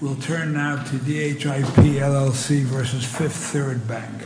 We'll turn now to DHIP, LLC v. Fifth Third Bank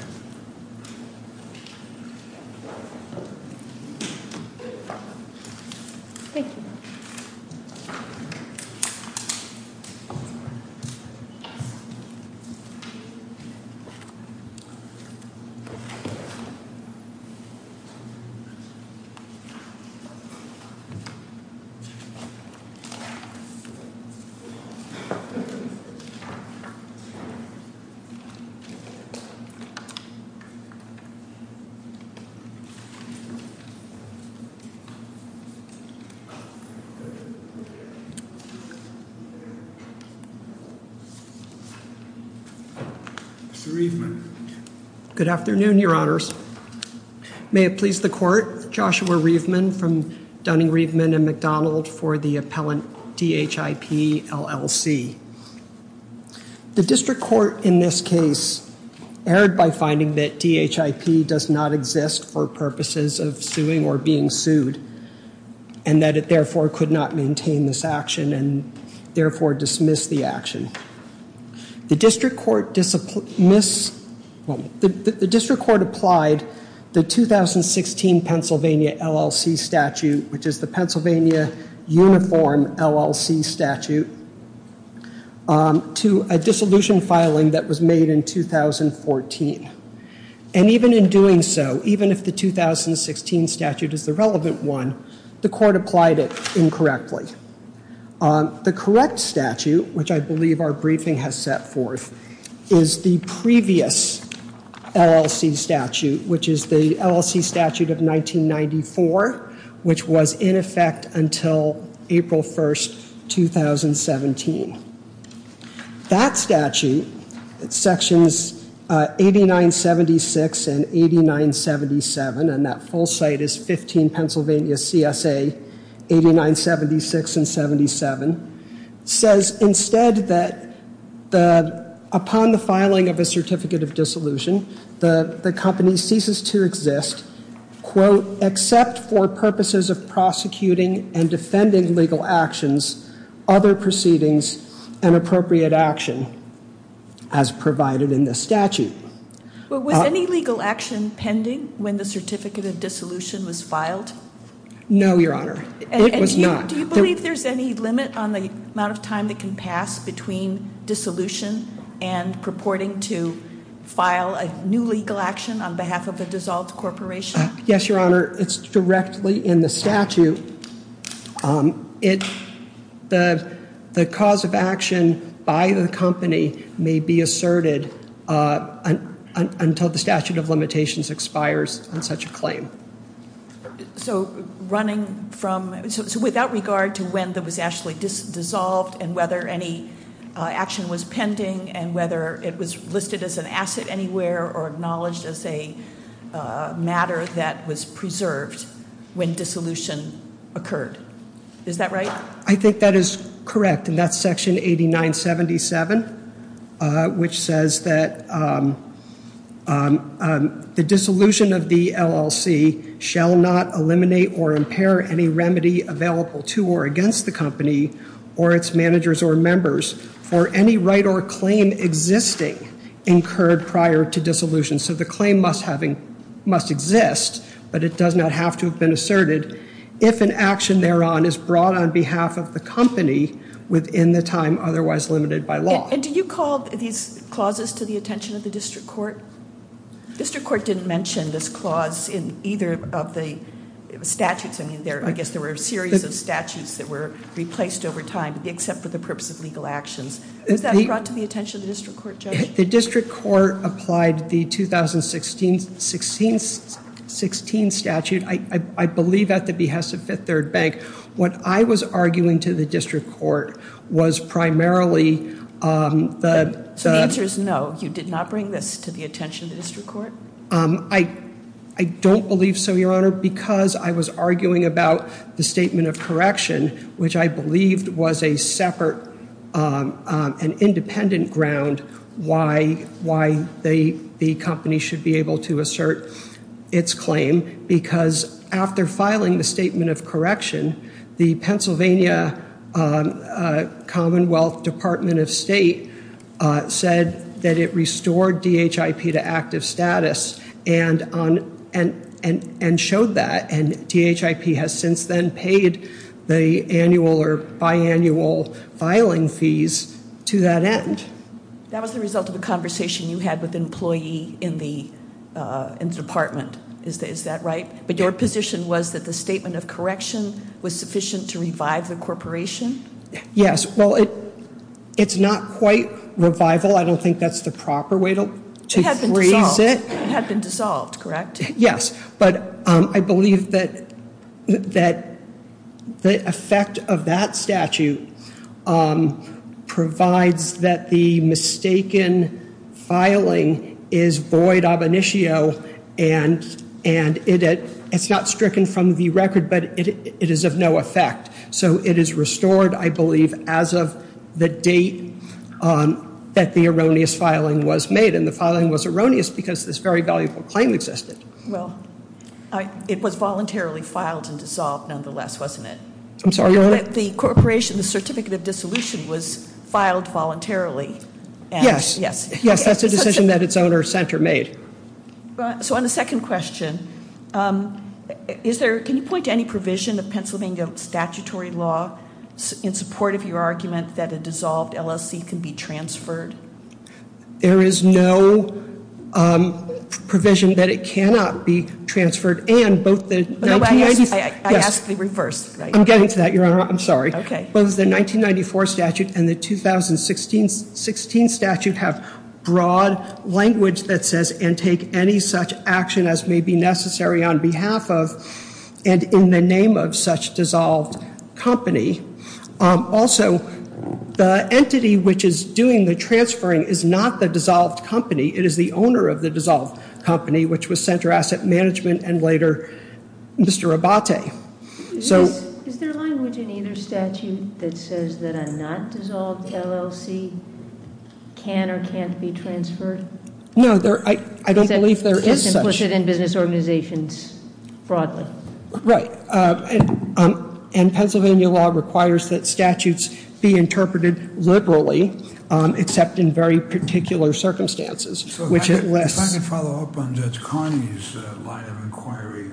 Mr. Reifman. Good afternoon, Your Honors. May it please the court, Joshua Reifman from The District Court in this case erred by finding that DHIP does not exist for purposes of suing or being sued and that it therefore could not maintain this action and therefore dismiss the action. The District Court applied the 2016 Pennsylvania LLC statute, which is the Pennsylvania Uniform LLC statute, to a dissolution filing that was made in 2014. And even in doing so, even if the 2016 statute is the relevant one, the court applied it incorrectly. The correct statute, which I believe our briefing has set forth, is the previous LLC statute, which is the LLC statute of 1994, which was in effect until April 1, 2017. That statute, sections 8976 and 8977, and that full site is 15 Pennsylvania CSA 8976 and 87, says instead that upon the filing of a certificate of dissolution, the company ceases to exist, quote, except for purposes of prosecuting and defending legal actions, other proceedings, and appropriate action as provided in the statute. Was any legal action pending when the certificate of dissolution was filed? No, Your Honor. It was not. Do you believe there's any limit on the amount of time that can pass between dissolution and purporting to file a new legal action on behalf of a dissolved corporation? Yes, Your Honor. It's directly in the statute. The cause of action by the company may be asserted until the statute of limitations expires on such a claim. So running from, so without regard to when that was actually dissolved and whether any action was pending and whether it was listed as an asset anywhere or acknowledged as a matter that was preserved when dissolution occurred. Is that right? I think that is correct. And that's section 8977, which says that the dissolution of the LLC shall not eliminate or impair any remedy available to or against the company or its managers or members for any right or claim existing incurred prior to dissolution. So the claim must exist, but it does not have to have been asserted if an action thereon is brought on behalf of the company within the time otherwise limited by law. And do you call these clauses to the attention of the district court? The district court didn't mention this clause in either of the statutes. I mean, I guess there were a series of statutes that were replaced over time except for the purpose of legal actions. Was that brought to the attention of the district court, Judge? The district court applied the 2016 statute, I believe at the behest of Fifth Third Bank. What I was arguing to the district court was primarily the... So the answer is no, you did not bring this to the attention of the district court? I don't believe so, Your Honor, because I was arguing about the statement of correction, which I believed was a separate and independent ground why the company should be able to assert its claim. Because after filing the statement of correction, the Pennsylvania Commonwealth Department of State said that it restored DHIP to active status and showed that. And DHIP has since then paid the annual or biannual filing fees to that end. That was the result of a conversation you had with an employee in the department. Is that right? But your position was that the statement of correction was sufficient to revive the corporation? Yes. Well, it's not quite revival. I don't think that's the proper way to phrase it. It had been dissolved, correct? Yes. But I believe that the effect of that statute provides that the mistaken filing is void ab initio. And it's not stricken from the record, but it is of no effect. So it is restored, I believe, as of the date that the erroneous filing was made. And the filing was erroneous because this very valuable claim existed. Well, it was voluntarily filed and dissolved nonetheless, wasn't it? I'm sorry, Your Honor? The corporation, the certificate of dissolution was filed voluntarily. Yes. Yes, that's a decision that its owner center made. So on the second question, can you point to any provision of Pennsylvania statutory law in support of your argument that a dissolved LLC can be transferred? There is no provision that it cannot be transferred. I ask the reverse. I'm getting to that, Your Honor. I'm sorry. Both the 1994 statute and the 2016 statute have broad language that says and take any such action as may be necessary on behalf of and in the name of such dissolved company. Also, the entity which is doing the transferring is not the dissolved company. It is the owner of the dissolved company, which was Center Asset Management and later Mr. Abate. Is there language in either statute that says that a not dissolved LLC can or can't be transferred? No, I don't believe there is such. It's implicit in business organizations, broadly. Right. And Pennsylvania law requires that statutes be interpreted liberally, except in very particular circumstances. If I can follow up on Judge Carney's line of inquiry,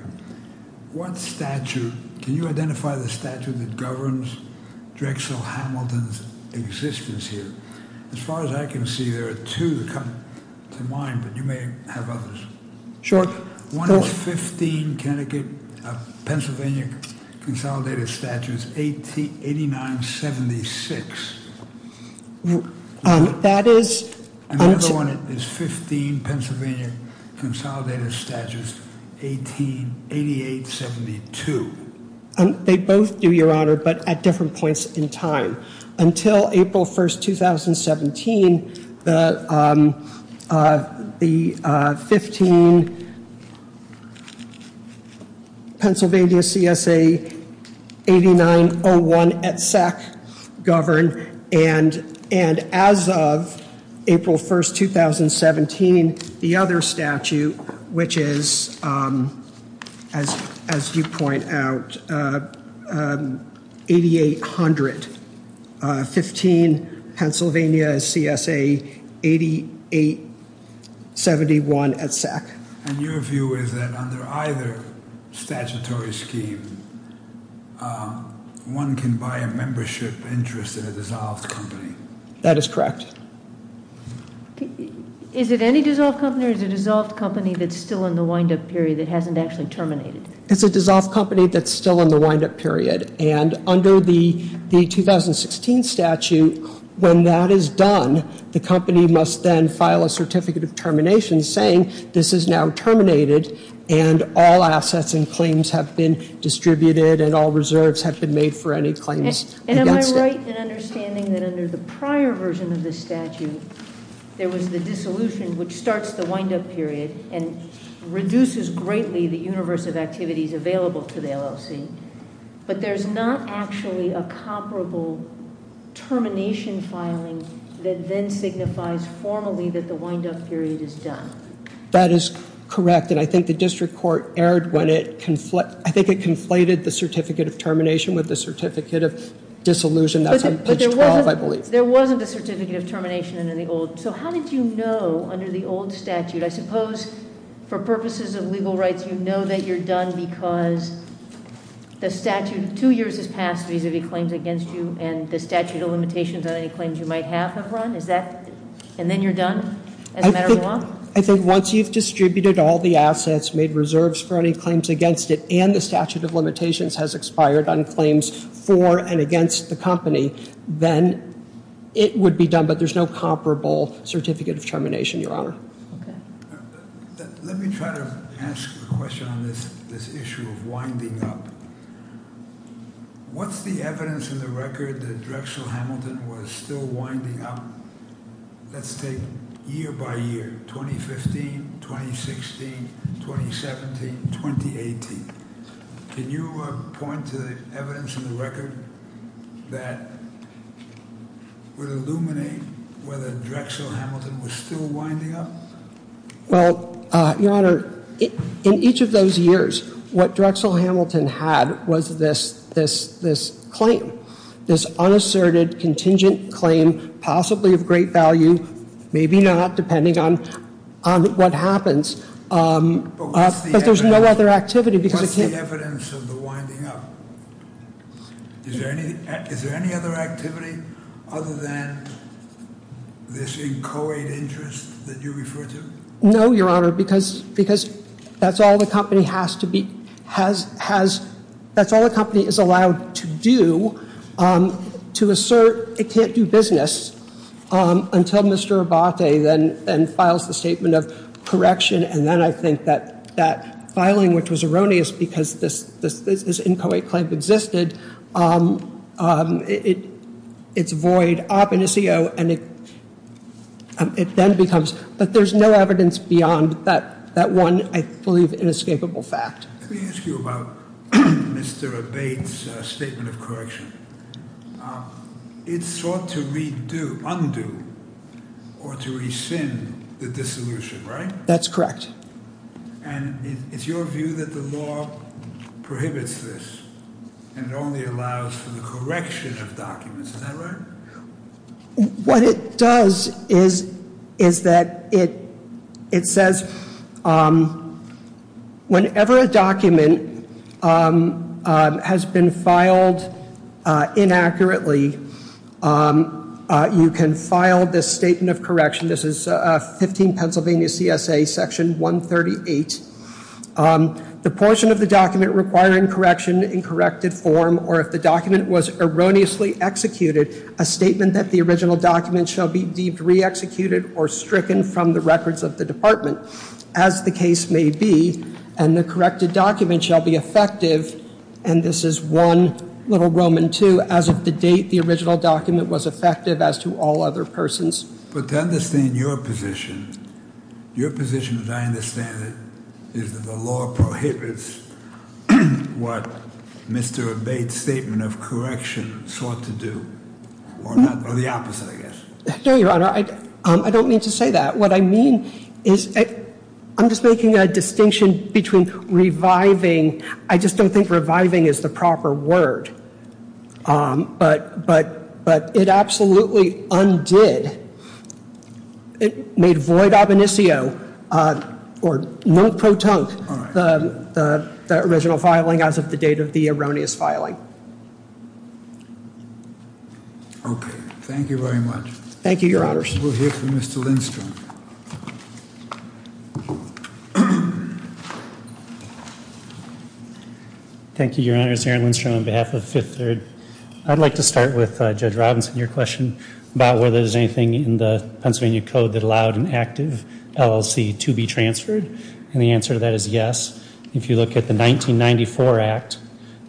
can you identify the statute that governs Drexel Hamilton's existence here? As far as I can see, there are two that come to mind, but you may have others. Sure. One is 15 Pennsylvania consolidated statutes, 8976. That is. Another one is 15 Pennsylvania consolidated statutes, 188872. They both do, Your Honor, but at different points in time. Until April 1st, 2017, the 15 Pennsylvania CSA 8901 at SAC governed. And as of April 1st, 2017, the other statute, which is, as you point out, 8800. 15 Pennsylvania CSA 8871 at SAC. And your view is that under either statutory scheme, one can buy a membership interest in a dissolved company? That is correct. Is it any dissolved company or is it a dissolved company that's still in the wind-up period that hasn't actually terminated? It's a dissolved company that's still in the wind-up period. And under the 2016 statute, when that is done, the company must then file a certificate of termination saying this is now terminated and all assets and claims have been distributed and all reserves have been made for any claims. And am I right in understanding that under the prior version of this statute, there was the dissolution which starts the wind-up period and reduces greatly the universe of activities available to the LLC? But there's not actually a comparable termination filing that then signifies formally that the wind-up period is done. That is correct. And I think the district court erred when it, I think it conflated the certificate of termination with the certificate of dissolution. That's on page 12, I believe. There wasn't a certificate of termination under the old. I suppose for purposes of legal rights, you know that you're done because the statute, two years has passed vis-a-vis claims against you and the statute of limitations on any claims you might have have run? Is that, and then you're done as a matter of law? I think once you've distributed all the assets, made reserves for any claims against it, and the statute of limitations has expired on claims for and against the company, then it would be done, but there's no comparable certificate of termination, Your Honor. Okay. Let me try to ask a question on this issue of winding up. What's the evidence in the record that Drexel Hamilton was still winding up? Let's take year by year, 2015, 2016, 2017, 2018. Can you point to the evidence in the record that would illuminate whether Drexel Hamilton was still winding up? Well, Your Honor, in each of those years, what Drexel Hamilton had was this claim, this unasserted contingent claim, possibly of great value, maybe not, depending on what happens. But what's the evidence? But there's no other activity because it can't- What's the evidence of the winding up? Is there any other activity other than this inchoate interest that you refer to? No, Your Honor, because that's all the company has to be, that's all the company is allowed to do to assert it can't do business until Mr. Abate then files the statement of correction. And then I think that filing, which was erroneous because this inchoate claim existed, it's void ab initio, and it then becomes- But there's no evidence beyond that one, I believe, inescapable fact. Let me ask you about Mr. Abate's statement of correction. It sought to undo or to rescind the dissolution, right? That's correct. And it's your view that the law prohibits this and only allows for the correction of documents, is that right? What it does is that it says whenever a document has been filed inaccurately, you can file this statement of correction. This is 15 Pennsylvania CSA Section 138. The portion of the document requiring correction in corrected form, or if the document was erroneously executed, a statement that the original document shall be re-executed or stricken from the records of the department, as the case may be, and the corrected document shall be effective, and this is one little Roman too, as of the date the original document was effective as to all other persons. But to understand your position, your position as I understand it, is that the law prohibits what Mr. Abate's statement of correction sought to do. Or the opposite, I guess. No, Your Honor, I don't mean to say that. What I mean is I'm just making a distinction between reviving. I just don't think reviving is the proper word. But it absolutely undid. It made void ab initio, or non pro tonque, the original filing as of the date of the erroneous filing. Okay, thank you very much. Thank you, Your Honors. We'll hear from Mr. Lindstrom. Thank you, Your Honors. Aaron Lindstrom on behalf of Fifth Third. I'd like to start with Judge Robinson, your question about whether there's anything in the Pennsylvania Code that allowed an active LLC to be transferred. And the answer to that is yes. If you look at the 1994 Act,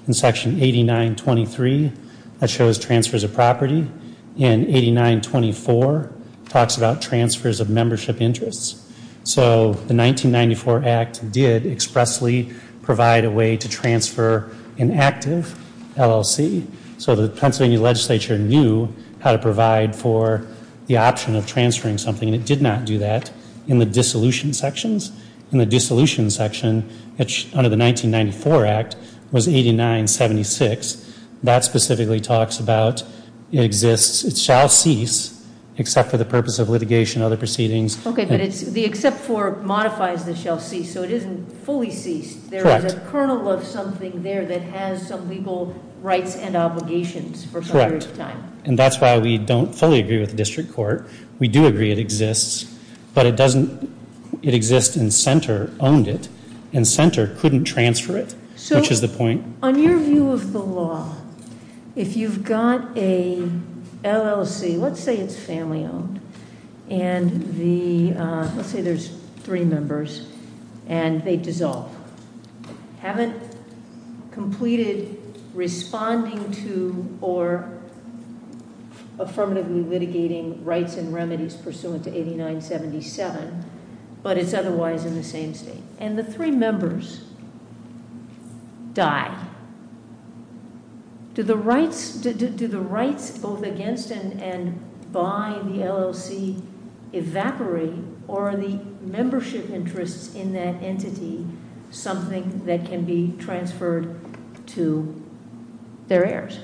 in section 8923, that shows transfers of property. And 8924 talks about transfers of membership interests. So the 1994 Act did expressly provide a way to transfer an active LLC. So the Pennsylvania legislature knew how to provide for the option of transferring something. And it did not do that in the dissolution sections. In the dissolution section, under the 1994 Act, was 8976. That specifically talks about it exists, it shall cease, except for the purpose of litigation and other proceedings. Okay, but the except for modifies the shall cease, so it isn't fully ceased. Correct. There is a kernel of something there that has some legal rights and obligations for a period of time. Correct. And that's why we don't fully agree with the district court. We do agree it exists. But it doesn't, it exists and Center owned it. And Center couldn't transfer it, which is the point. On your view of the law, if you've got a LLC, let's say it's family owned. And the, let's say there's three members and they dissolve. Haven't completed responding to or affirmatively litigating rights and remedies pursuant to 8977. But it's otherwise in the same state. And the three members die. Do the rights both against and by the LLC evaporate? Or are the membership interests in that entity something that can be transferred to their heirs?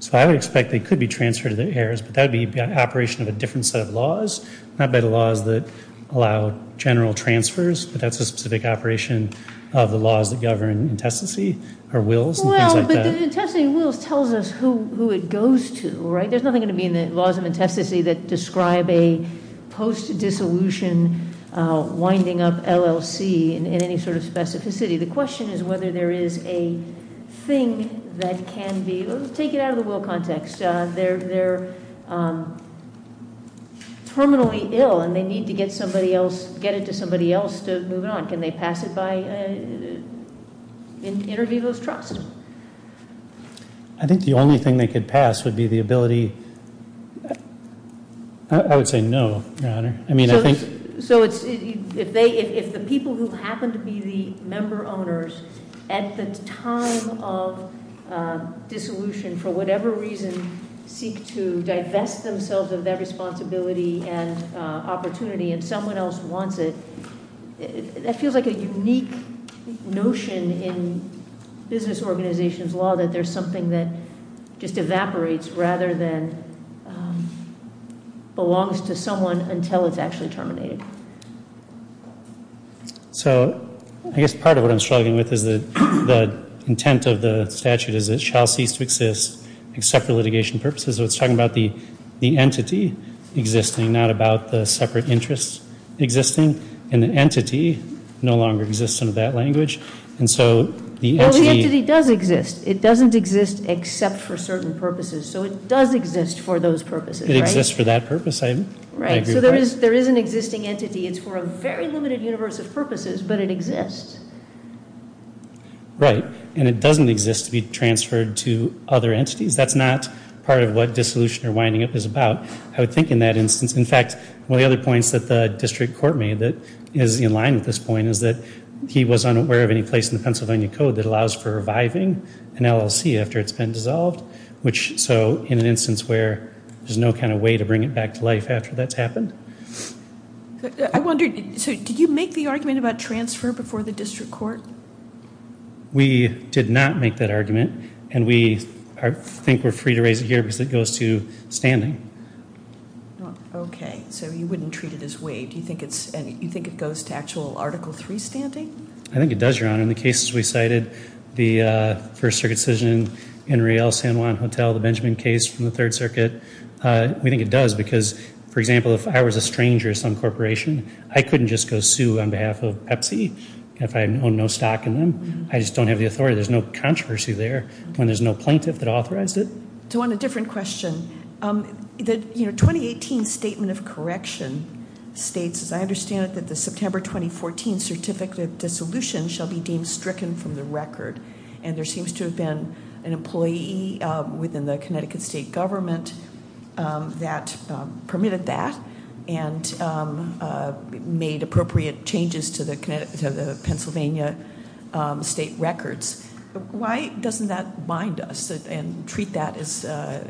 So I would expect they could be transferred to their heirs. But that would be an operation of a different set of laws. Not by the laws that allow general transfers. But that's a specific operation of the laws that govern intestacy or wills and things like that. Well, but the intestacy wills tells us who it goes to, right? There's nothing going to be in the laws of intestacy that describe a post-dissolution winding up LLC in any sort of specificity. The question is whether there is a thing that can be, take it out of the will context. They're terminally ill and they need to get somebody else, get it to somebody else to move it on. Can they pass it by inter vivo's trust? I think the only thing they could pass would be the ability. I mean, I think- So if the people who happen to be the member owners at the time of dissolution, for whatever reason, seek to divest themselves of that responsibility and opportunity, and someone else wants it, that feels like a unique notion in business organizations law, that there's something that just evaporates rather than belongs to someone until it's actually terminated. So I guess part of what I'm struggling with is the intent of the statute is it shall cease to exist except for litigation purposes. So it's talking about the entity existing, not about the separate interests existing. And the entity no longer exists under that language. And so the entity- Well, the entity does exist. It doesn't exist except for certain purposes. So it does exist for those purposes, right? It exists for that purpose, I agree with that. Right. So there is an existing entity. It's for a very limited universe of purposes, but it exists. Right. And it doesn't exist to be transferred to other entities. That's not part of what dissolution or winding up is about, I would think, in that instance. In fact, one of the other points that the district court made that is in line with this point is that he was unaware of any place in the Pennsylvania Code that allows for reviving an LLC after it's been dissolved, so in an instance where there's no kind of way to bring it back to life after that's happened. I wondered, so did you make the argument about transfer before the district court? We did not make that argument, and we think we're free to raise it here because it goes to standing. Okay. So you wouldn't treat it as waived. You think it goes to actual Article III standing? I think it does, Your Honor. In the cases we cited, the First Circuit decision in Riel-San Juan Hotel, the Benjamin case from the Third Circuit, we think it does because, for example, if I was a stranger at some corporation, I couldn't just go sue on behalf of Pepsi if I owned no stock in them. I just don't have the authority. There's no controversy there when there's no plaintiff that authorized it. So on a different question, the 2018 Statement of Correction states, as I understand it, that the September 2014 certificate of dissolution shall be deemed stricken from the record, and there seems to have been an employee within the Connecticut state government that permitted that and made appropriate changes to the Pennsylvania state records. Why doesn't that bind us and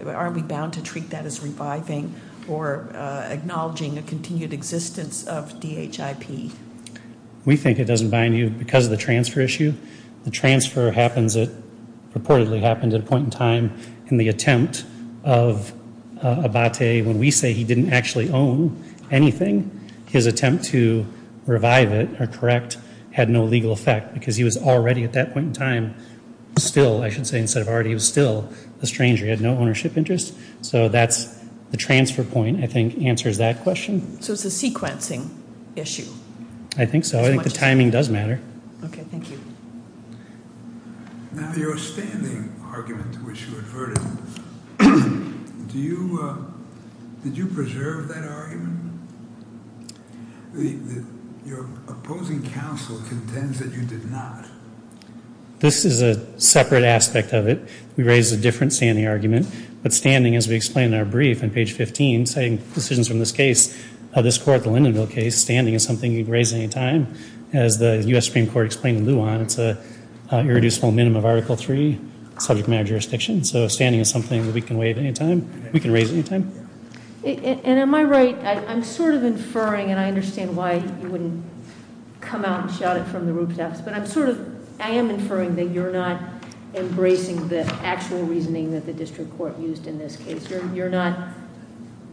aren't we bound to treat that as reviving or acknowledging a continued existence of DHIP? We think it doesn't bind you because of the transfer issue. The transfer reportedly happened at a point in time in the attempt of Abate. When we say he didn't actually own anything, his attempt to revive it or correct had no legal effect because he was already at that point in time still, I should say instead of already, he was still a stranger. He had no ownership interest. So that's the transfer point, I think, answers that question. So it's a sequencing issue. I think so. I think the timing does matter. Okay, thank you. Now, your standing argument, which you adverted, did you preserve that argument? Your opposing counsel contends that you did not. This is a separate aspect of it. We raised a different standing argument. But standing, as we explained in our brief on page 15, citing decisions from this case, this court, the Lindenville case, standing is something you can raise at any time. As the U.S. Supreme Court explained in Luan, it's an irreducible minimum of Article III subject matter jurisdiction. So standing is something that we can raise at any time. And am I right? I'm sort of inferring, and I understand why you wouldn't come out and shout it from the rooftops. But I'm sort of, I am inferring that you're not embracing the actual reasoning that the district court used in this case. You're not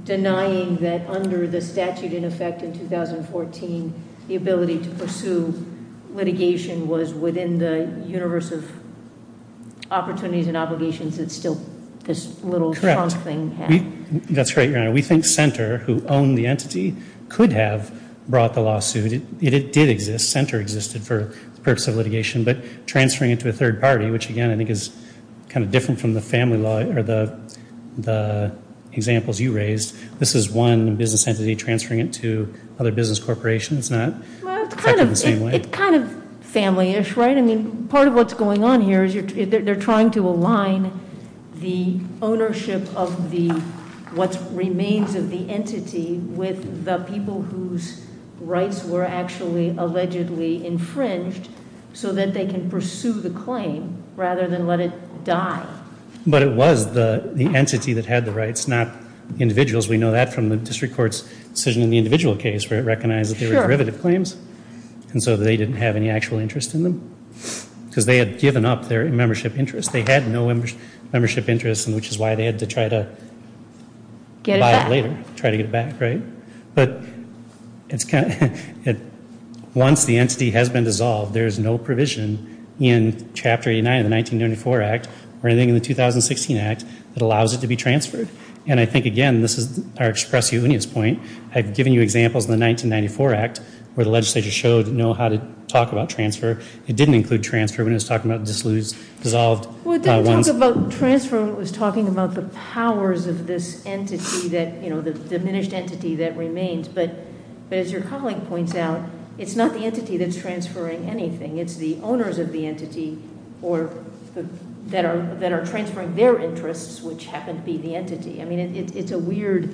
denying that under the statute in effect in 2014, the ability to pursue litigation was within the universe of opportunities and That's right, Your Honor. We think Senter, who owned the entity, could have brought the lawsuit. It did exist. Senter existed for the purpose of litigation. But transferring it to a third party, which, again, I think is kind of different from the family law or the examples you raised, this is one business entity transferring it to other business corporations. Well, it's kind of family-ish, right? I mean, part of what's going on here is they're trying to align the ownership of what remains of the entity with the people whose rights were actually allegedly infringed so that they can pursue the claim rather than let it die. But it was the entity that had the rights, not individuals. We know that from the district court's decision in the individual case where it recognized that they were derivative claims. And so they didn't have any actual interest in them. Because they had given up their membership interest. They had no membership interest, which is why they had to try to buy it later, try to get it back, right? But once the entity has been dissolved, there is no provision in Chapter 89 of the 1994 Act or anything in the 2016 Act that allows it to be transferred. And I think, again, this is to express Eunice's point. I've given you examples in the 1994 Act where the legislature showed how to talk about transfer. It didn't include transfer when it was talking about dissolved ones. Well, it didn't talk about transfer when it was talking about the powers of this entity, the diminished entity that remains. But as your colleague points out, it's not the entity that's transferring anything. It's the owners of the entity that are transferring their interests, which happen to be the entity. I mean, it's a weird,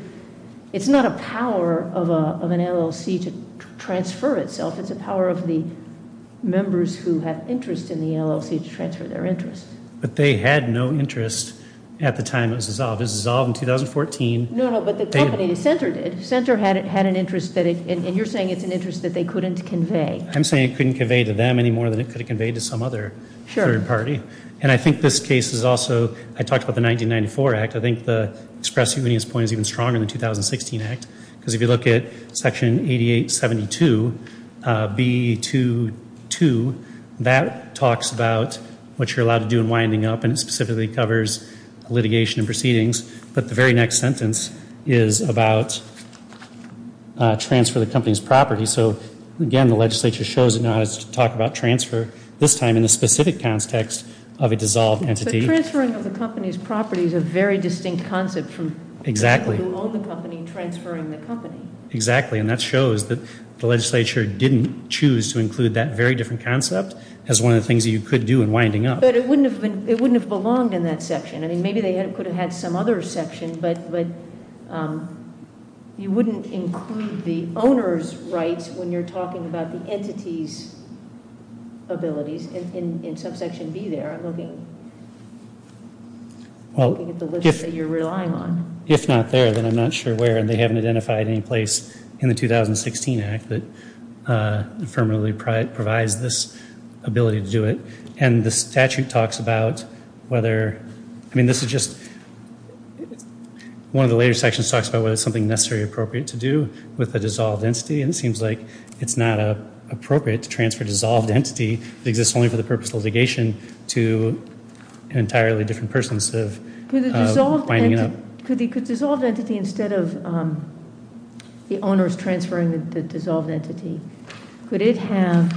it's not a power of an LLC to transfer itself. It's a power of the members who have interest in the LLC to transfer their interest. But they had no interest at the time it was dissolved. It was dissolved in 2014. No, no, but the company, the center did. The center had an interest that it, and you're saying it's an interest that they couldn't convey. I'm saying it couldn't convey to them any more than it could have conveyed to some other third party. Sure. And I think this case is also, I talked about the 1994 Act. I think the express convenience point is even stronger than the 2016 Act. Because if you look at Section 8872B22, that talks about what you're allowed to do in winding up. And it specifically covers litigation and proceedings. But the very next sentence is about transfer of the company's property. So, again, the legislature shows it now has to talk about transfer, this time in the specific context of a dissolved entity. Transferring of the company's property is a very distinct concept from people who own the company transferring the company. Exactly. And that shows that the legislature didn't choose to include that very different concept as one of the things you could do in winding up. But it wouldn't have belonged in that section. I mean, maybe they could have had some other section. But you wouldn't include the owner's rights when you're talking about the entity's abilities in Subsection B there. Well, if not there, then I'm not sure where. And they haven't identified any place in the 2016 Act that affirmatively provides this ability to do it. And the statute talks about whether, I mean, this is just, one of the later sections talks about whether it's something necessarily appropriate to do with a dissolved entity. And it seems like it's not appropriate to transfer a dissolved entity that exists only for the purpose of litigation to an entirely different person instead of winding it up. Could the dissolved entity, instead of the owners transferring the dissolved entity, could it have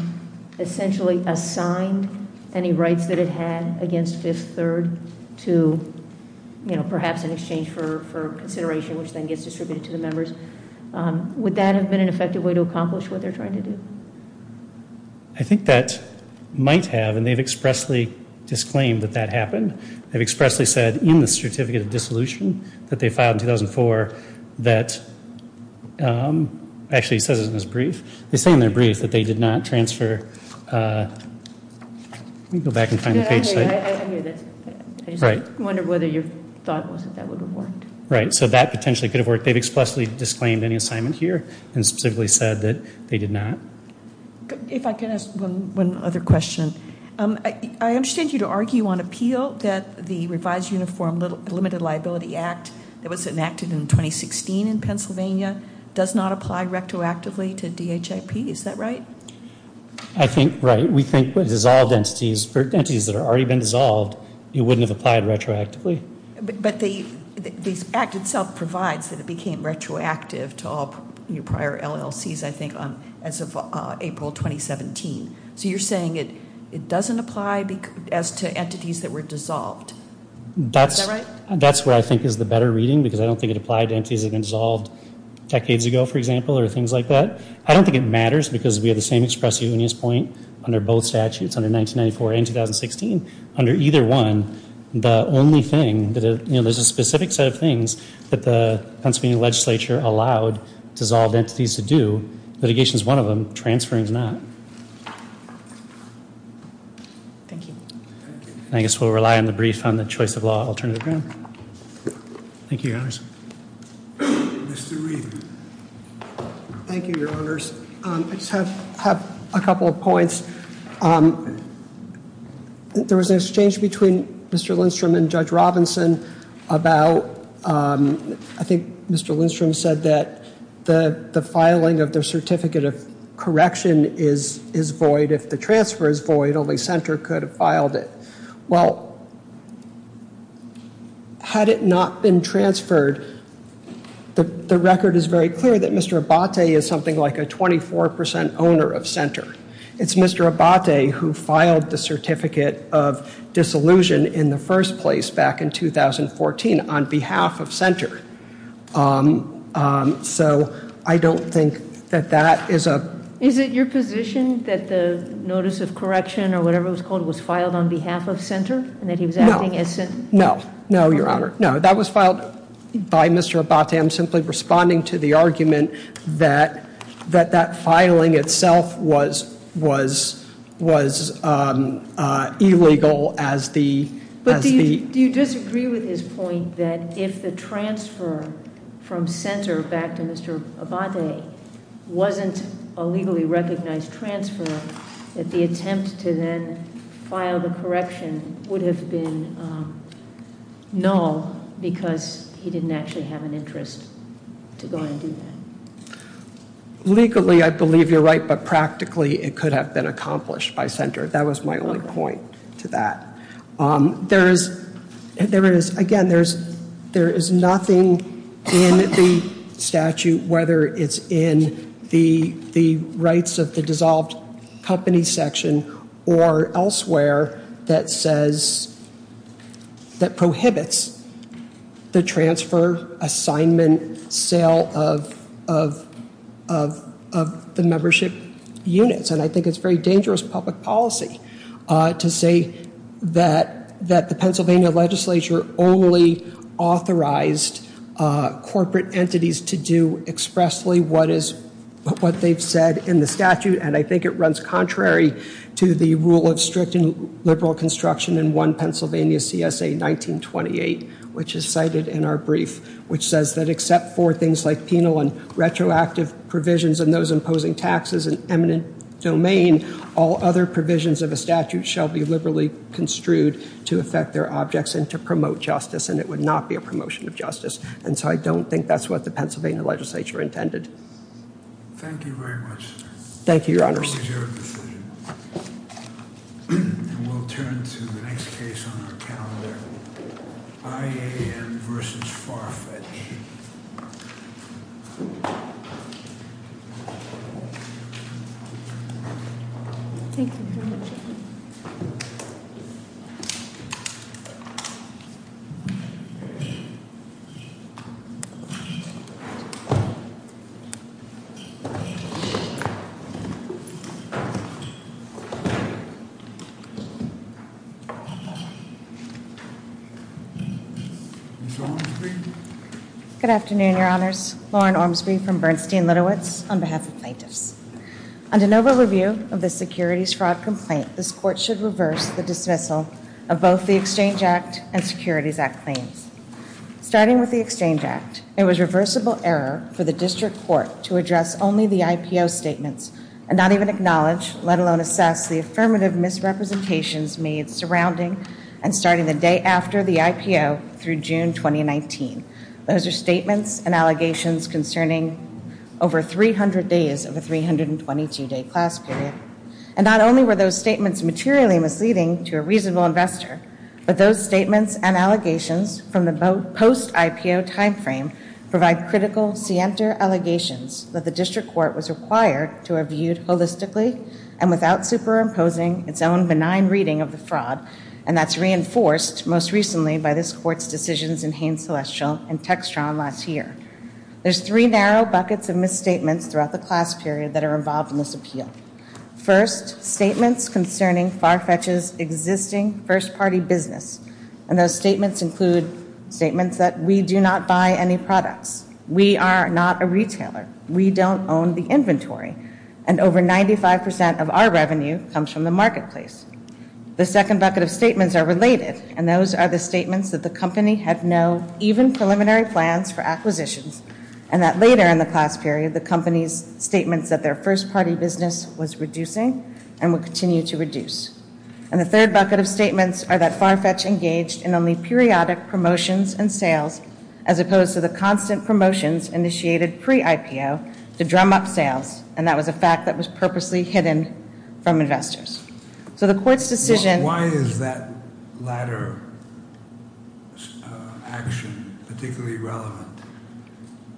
essentially assigned any rights that it had against Fifth Third to perhaps in exchange for consideration, which then gets distributed to the members? Would that have been an effective way to accomplish what they're trying to do? I think that might have. And they've expressly disclaimed that that happened. They've expressly said in the Certificate of Dissolution that they filed in 2004 that, actually it says it in this brief. They say in their brief that they did not transfer, let me go back and find the page. I hear this. I just wonder whether your thought was that that would have worked. Right, so that potentially could have worked. They've expressly disclaimed any assignment here and specifically said that they did not. If I can ask one other question. I understand you to argue on appeal that the Revised Uniform Limited Liability Act that was enacted in 2016 in Pennsylvania does not apply retroactively to DHIP. Is that right? I think right. We think with dissolved entities, for entities that have already been dissolved, it wouldn't have applied retroactively. But the act itself provides that it became retroactive to all prior LLCs, I think, as of April 2017. So you're saying it doesn't apply as to entities that were dissolved. Is that right? That's where I think is the better reading because I don't think it applied to entities that had been dissolved decades ago, for example, or things like that. I don't think it matters because we have the same express unius point under both statutes, under 1994 and 2016. Under either one, the only thing, there's a specific set of things that the Pennsylvania legislature allowed dissolved entities to do. Litigation is one of them. Transfer is not. Thank you. I guess we'll rely on the brief on the choice of law alternative. Thank you, Your Honors. Mr. Reed. Thank you, Your Honors. I just have a couple of points. There was an exchange between Mr. Lindstrom and Judge Robinson about, I think Mr. Lindstrom said that the filing of the certificate of correction is void. If the transfer is void, only Senter could have filed it. Well, had it not been transferred, the record is very clear that Mr. Abate is something like a 24% owner of Senter. It's Mr. Abate who filed the certificate of dissolution in the first place back in 2014 on behalf of Senter. So I don't think that that is a Is it your position that the notice of correction or whatever it was called was filed on behalf of Senter and that he was acting as Senter? No. No, Your Honor. No, that was filed by Mr. Abate. I'm simply responding to the argument that that filing itself was illegal as the But do you disagree with his point that if the transfer from Senter back to Mr. Abate wasn't a legally recognized transfer, that the attempt to then file the correction would have been null because he didn't actually have an interest to go ahead and do that? Legally, I believe you're right, but practically it could have been accomplished by Senter. That was my only point to that. Again, there is nothing in the statute, whether it's in the rights of the dissolved company section or elsewhere, that prohibits the transfer, assignment, sale of the membership units. And I think it's very dangerous public policy to say that the Pennsylvania legislature only authorized corporate entities to do expressly what they've said in the statute. And I think it runs contrary to the rule of strict and liberal construction in one Pennsylvania CSA 1928, which is cited in our brief, which says that except for things like penal and retroactive provisions and those imposing taxes in eminent domain, all other provisions of a statute shall be liberally construed to affect their objects and to promote justice. And it would not be a promotion of justice. And so I don't think that's what the Pennsylvania legislature intended. Thank you very much. Thank you, Your Honors. And we'll turn to the next case on our calendar, IAN versus Farfetch. Ms. Ormsby. Good afternoon, Your Honors. Lauren Ormsby from Bernstein-Litowitz on behalf of plaintiffs. Under NOVA review of the securities fraud complaint, this court should reverse the dismissal of both the Exchange Act and Securities Act claims. Starting with the Exchange Act, it was reversible error for the district court to address only the IPO statements and not even acknowledge, let alone assess the affirmative misrepresentations made surrounding and starting the day after the IPO through June 2019. Those are statements and allegations concerning over 300 days of a 322-day class period. And not only were those statements materially misleading to a reasonable investor, but those statements and allegations from the post-IPO timeframe provide critical, scienter allegations that the district court was required to have viewed holistically and without superimposing its own benign reading of the fraud, and that's reinforced most recently by this court's decisions in Haines-Celestial and Textron last year. There's three narrow buckets of misstatements throughout the class period that are involved in this appeal. First, statements concerning FARFETCH's existing first-party business. And those statements include statements that we do not buy any products. We are not a retailer. We don't own the inventory. And over 95% of our revenue comes from the marketplace. The second bucket of statements are related, and those are the statements that the company had no even preliminary plans for acquisitions and that later in the class period the company's statements that their first-party business was reducing and will continue to reduce. And the third bucket of statements are that FARFETCH engaged in only periodic promotions and sales as opposed to the constant promotions initiated pre-IPO to drum up sales, and that was a fact that was purposely hidden from investors. So the court's decision... Why is that latter action particularly relevant?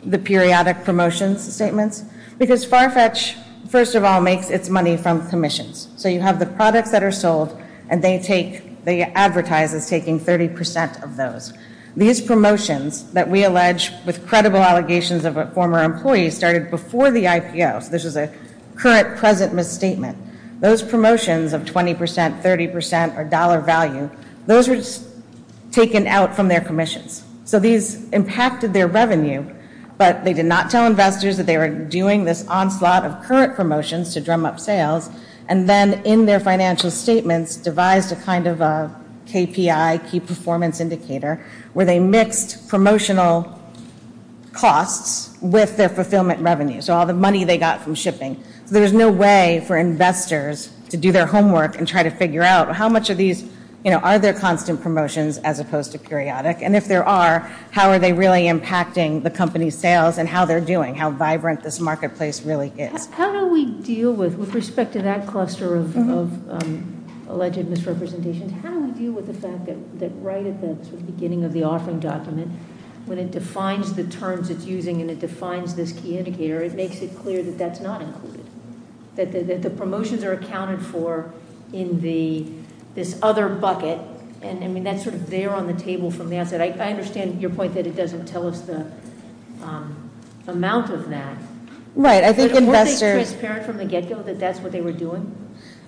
The periodic promotions statements? Because FARFETCH, first of all, makes its money from commissions. So you have the products that are sold, and they advertise as taking 30% of those. These promotions that we allege with credible allegations of a former employee started before the IPO, so this is a current present misstatement. Those promotions of 20%, 30%, or dollar value, those were taken out from their commissions. So these impacted their revenue, but they did not tell investors that they were doing this onslaught of current promotions to drum up sales, and then in their financial statements devised a kind of a KPI, key performance indicator, where they mixed promotional costs with their fulfillment revenue, so all the money they got from shipping. So there's no way for investors to do their homework and try to figure out how much of these are their constant promotions as opposed to periodic, and if there are, how are they really impacting the company's sales and how they're doing, how vibrant this marketplace really is. How do we deal with, with respect to that cluster of alleged misrepresentations, how do we deal with the fact that right at the beginning of the offering document, when it defines the terms it's using and it defines this key indicator, it makes it clear that that's not included, that the promotions are accounted for in this other bucket, and I mean that's sort of there on the table from the outset. I understand your point that it doesn't tell us the amount of that. Right, I think investors- Weren't they transparent from the get-go that that's what they were doing?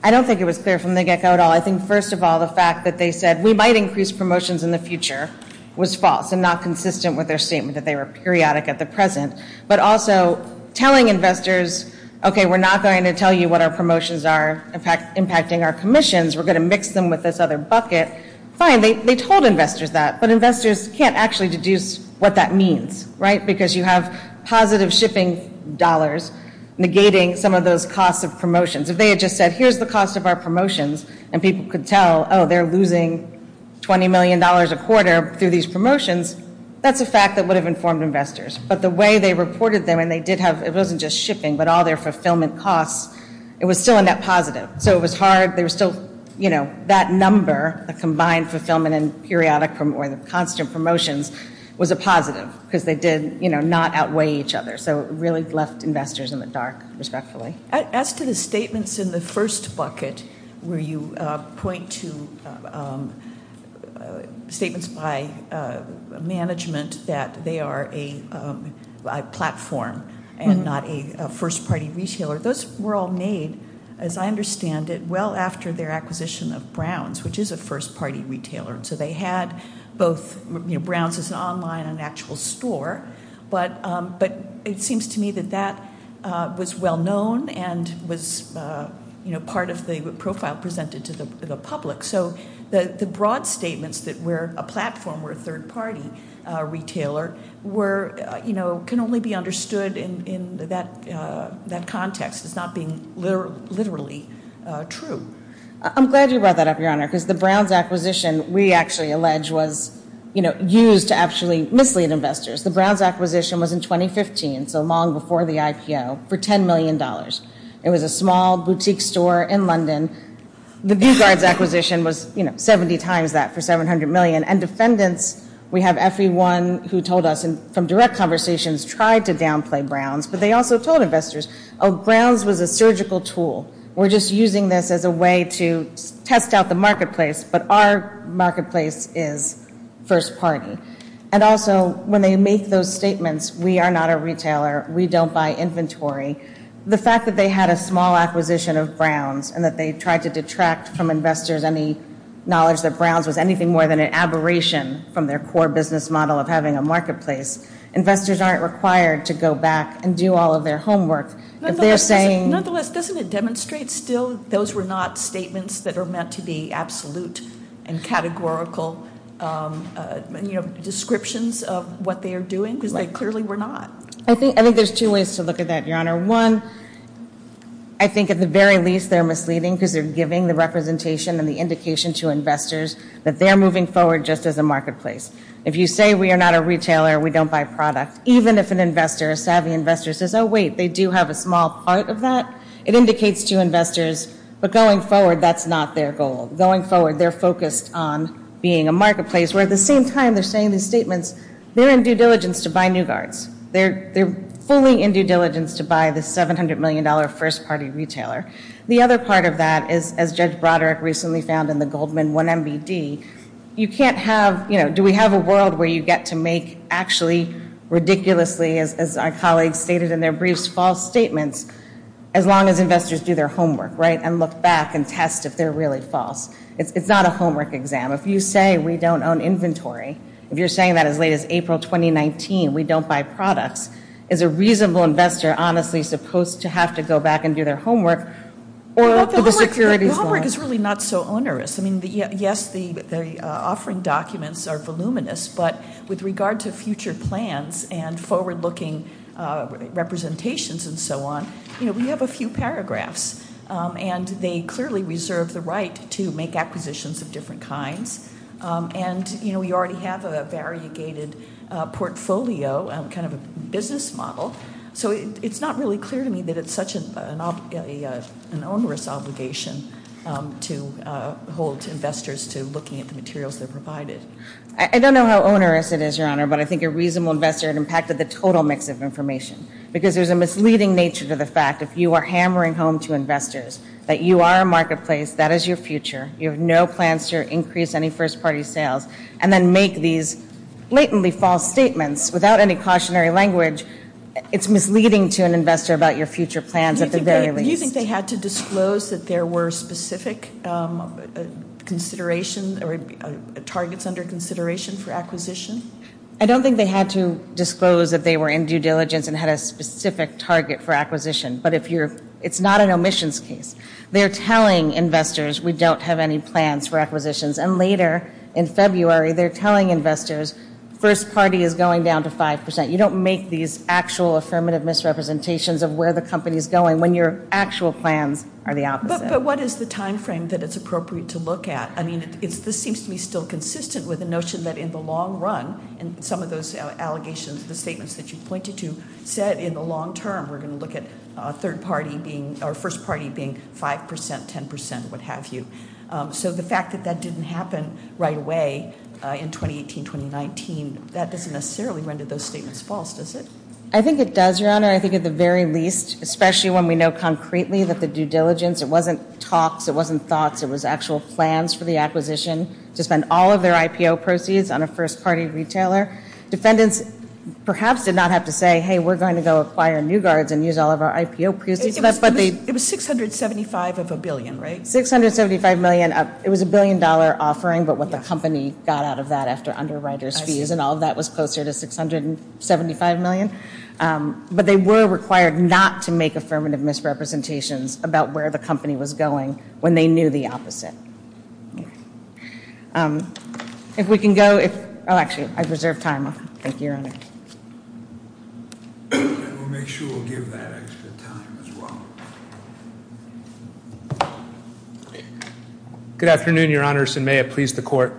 I don't think it was clear from the get-go at all. I think, first of all, the fact that they said we might increase promotions in the future was false and not consistent with their statement that they were periodic at the present, but also telling investors, okay, we're not going to tell you what our promotions are impacting our commissions. We're going to mix them with this other bucket. Fine, they told investors that, but investors can't actually deduce what that means, right, because you have positive shipping dollars negating some of those costs of promotions. If they had just said, here's the cost of our promotions, and people could tell, oh, they're losing $20 million a quarter through these promotions, that's a fact that would have informed investors. But the way they reported them, and they did have, it wasn't just shipping, but all their fulfillment costs, it was still a net positive. So it was hard, they were still, you know, that number, the combined fulfillment and periodic or the constant promotions, was a positive because they did, you know, not outweigh each other. So it really left investors in the dark, respectfully. As to the statements in the first bucket where you point to statements by management that they are a platform and not a first-party retailer, those were all made, as I understand it, well after their acquisition of Browns, which is a first-party retailer. And so they had both, you know, Browns is online, an actual store, but it seems to me that that was well known and was, you know, part of the profile presented to the public. So the broad statements that we're a platform or a third-party retailer were, you know, can only be understood in that context as not being literally true. I'm glad you brought that up, Your Honor, because the Browns acquisition, we actually allege, was, you know, used to actually mislead investors. The Browns acquisition was in 2015, so long before the IPO, for $10 million. It was a small boutique store in London. The Bugard's acquisition was, you know, 70 times that for $700 million. And defendants, we have everyone who told us from direct conversations tried to downplay Browns, but they also told investors, oh, Browns was a surgical tool. We're just using this as a way to test out the marketplace, but our marketplace is first-party. And also, when they make those statements, we are not a retailer, we don't buy inventory, the fact that they had a small acquisition of Browns and that they tried to detract from investors any knowledge that Browns was anything more than an aberration from their core business model of having a marketplace, investors aren't required to go back and do all of their homework. Nonetheless, doesn't it demonstrate still those were not statements that are meant to be absolute and categorical descriptions of what they are doing because they clearly were not? I think there's two ways to look at that, Your Honor. One, I think at the very least they're misleading because they're giving the representation and the indication to investors that they're moving forward just as a marketplace. If you say we are not a retailer, we don't buy products, even if an investor, a savvy investor, says, oh, wait, they do have a small part of that, it indicates to investors, but going forward, that's not their goal. Going forward, they're focused on being a marketplace, where at the same time they're saying these statements, they're in due diligence to buy New Guards. They're fully in due diligence to buy the $700 million first-party retailer. The other part of that is, as Judge Broderick recently found in the Goldman 1 MBD, you can't have, you know, do we have a world where you get to make actually, ridiculously as our colleagues stated in their briefs, false statements, as long as investors do their homework, right, and look back and test if they're really false. It's not a homework exam. If you say we don't own inventory, if you're saying that as late as April 2019, we don't buy products, is a reasonable investor honestly supposed to have to go back and do their homework? Well, the homework is really not so onerous. I mean, yes, the offering documents are voluminous, but with regard to future plans and forward-looking representations and so on, you know, we have a few paragraphs. And they clearly reserve the right to make acquisitions of different kinds. And, you know, we already have a variegated portfolio, kind of a business model. So it's not really clear to me that it's such an onerous obligation to hold investors to looking at the materials they're provided. I don't know how onerous it is, Your Honor, but I think a reasonable investor impacted the total mix of information because there's a misleading nature to the fact if you are hammering home to investors that you are a marketplace, that is your future, you have no plans to increase any first-party sales, and then make these blatantly false statements without any cautionary language, it's misleading to an investor about your future plans at the very least. Do you think they had to disclose that there were specific considerations or targets under consideration for acquisition? I don't think they had to disclose that they were in due diligence and had a specific target for acquisition. But it's not an omissions case. They're telling investors we don't have any plans for acquisitions. And later in February, they're telling investors first party is going down to 5%. You don't make these actual affirmative misrepresentations of where the company is going when your actual plans are the opposite. But what is the timeframe that it's appropriate to look at? I mean, this seems to me still consistent with the notion that in the long run, and some of those allegations, the statements that you pointed to said in the long term, we're going to look at first party being 5%, 10%, what have you. So the fact that that didn't happen right away in 2018, 2019, that doesn't necessarily render those statements false, does it? I think it does, Your Honor. I think at the very least, especially when we know concretely that the due diligence, it wasn't talks, it wasn't thoughts, it was actual plans for the acquisition to spend all of their IPO proceeds on a first party retailer. Defendants perhaps did not have to say, hey, we're going to go acquire new guards and use all of our IPO proceeds. It was $675 of a billion, right? $675 million. It was a billion dollar offering, but what the company got out of that after underwriters fees and all of that was closer to $675 million. But they were required not to make affirmative misrepresentations about where the company was going when they knew the opposite. If we can go, if, oh, actually, I reserve time. Thank you, Your Honor. We'll make sure we'll give that extra time as well. Good afternoon, Your Honors, and may it please the court.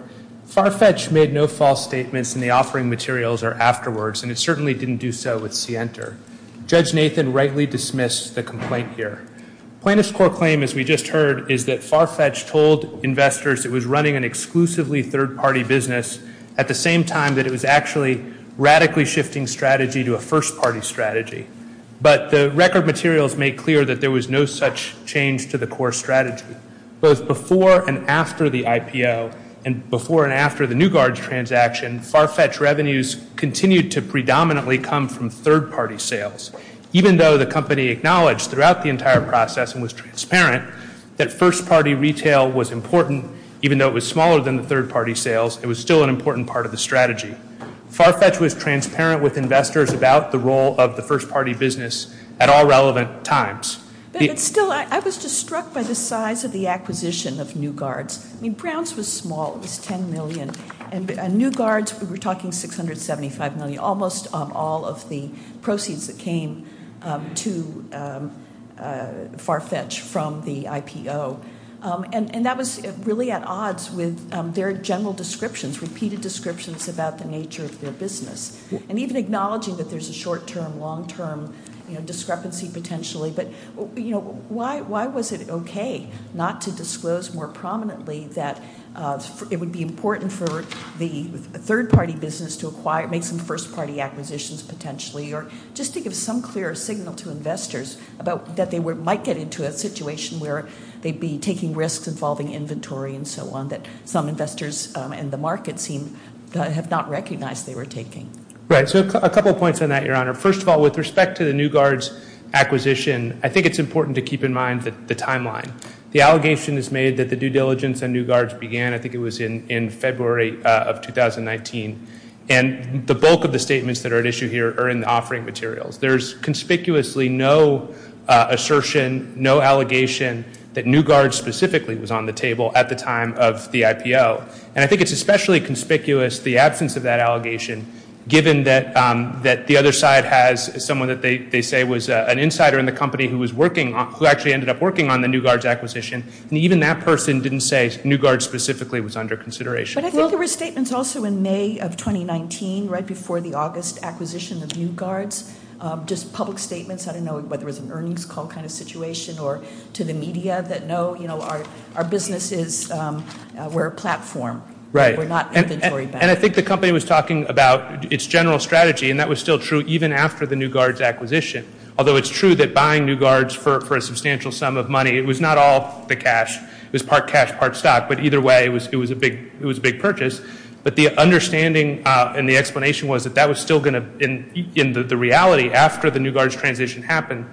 Farfetch made no false statements in the offering materials or afterwards, and it certainly didn't do so with Sienter. Judge Nathan rightly dismissed the complaint here. Plaintiff's court claim, as we just heard, is that Farfetch told investors it was running an exclusively third party business at the same time that it was actually radically shifting strategy to a first party strategy. But the record materials make clear that there was no such change to the core strategy. Both before and after the IPO and before and after the new guards transaction, and Farfetch revenues continued to predominantly come from third party sales. Even though the company acknowledged throughout the entire process and was transparent that first party retail was important, even though it was smaller than the third party sales, it was still an important part of the strategy. Farfetch was transparent with investors about the role of the first party business at all relevant times. But still, I was just struck by the size of the acquisition of new guards. I mean, Browns was small. It was $10 million. And new guards, we were talking $675 million, almost all of the proceeds that came to Farfetch from the IPO. And that was really at odds with their general descriptions, repeated descriptions about the nature of their business, and even acknowledging that there's a short-term, long-term discrepancy potentially. But, you know, why was it okay not to disclose more prominently that it would be important for the third party business to make some first party acquisitions potentially, or just to give some clear signal to investors that they might get into a situation where they'd be taking risks involving inventory and so on that some investors in the market have not recognized they were taking. Right. So a couple of points on that, Your Honor. First of all, with respect to the new guards acquisition, I think it's important to keep in mind the timeline. The allegation is made that the due diligence on new guards began, I think it was in February of 2019. And the bulk of the statements that are at issue here are in the offering materials. There's conspicuously no assertion, no allegation, that new guards specifically was on the table at the time of the IPO. And I think it's especially conspicuous the absence of that allegation, given that the other side has someone that they say was an insider in the company who actually ended up working on the new guards acquisition. And even that person didn't say new guards specifically was under consideration. But I think there were statements also in May of 2019, right before the August acquisition of new guards, just public statements, I don't know whether it was an earnings call kind of situation or to the media that no, you know, our business is, we're a platform. Right. We're not inventory banks. And I think the company was talking about its general strategy, and that was still true even after the new guards acquisition. Although it's true that buying new guards for a substantial sum of money, it was not all the cash. It was part cash, part stock. But either way, it was a big purchase. But the understanding and the explanation was that that was still going to, in the reality, after the new guards transaction happened,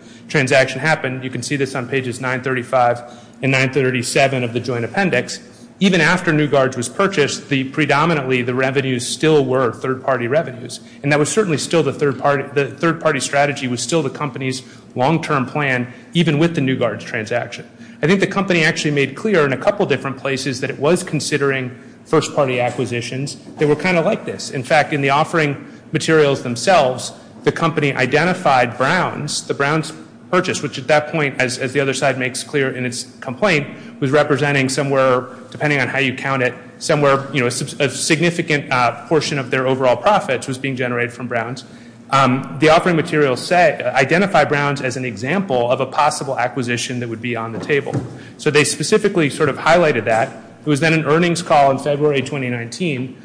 you can see this on pages 935 and 937 of the joint appendix, even after new guards was purchased, predominantly the revenues still were third-party revenues. And that was certainly still the third-party strategy was still the company's long-term plan, even with the new guards transaction. I think the company actually made clear in a couple different places that it was considering first-party acquisitions. They were kind of like this. In fact, in the offering materials themselves, the company identified Browns, the Browns purchase, which at that point, as the other side makes clear in its complaint, was representing somewhere, depending on how you count it, somewhere, you know, a significant portion of their overall profits was being generated from Browns. The offering materials identify Browns as an example of a possible acquisition that would be on the table. So they specifically sort of highlighted that. It was then an earnings call in February 2019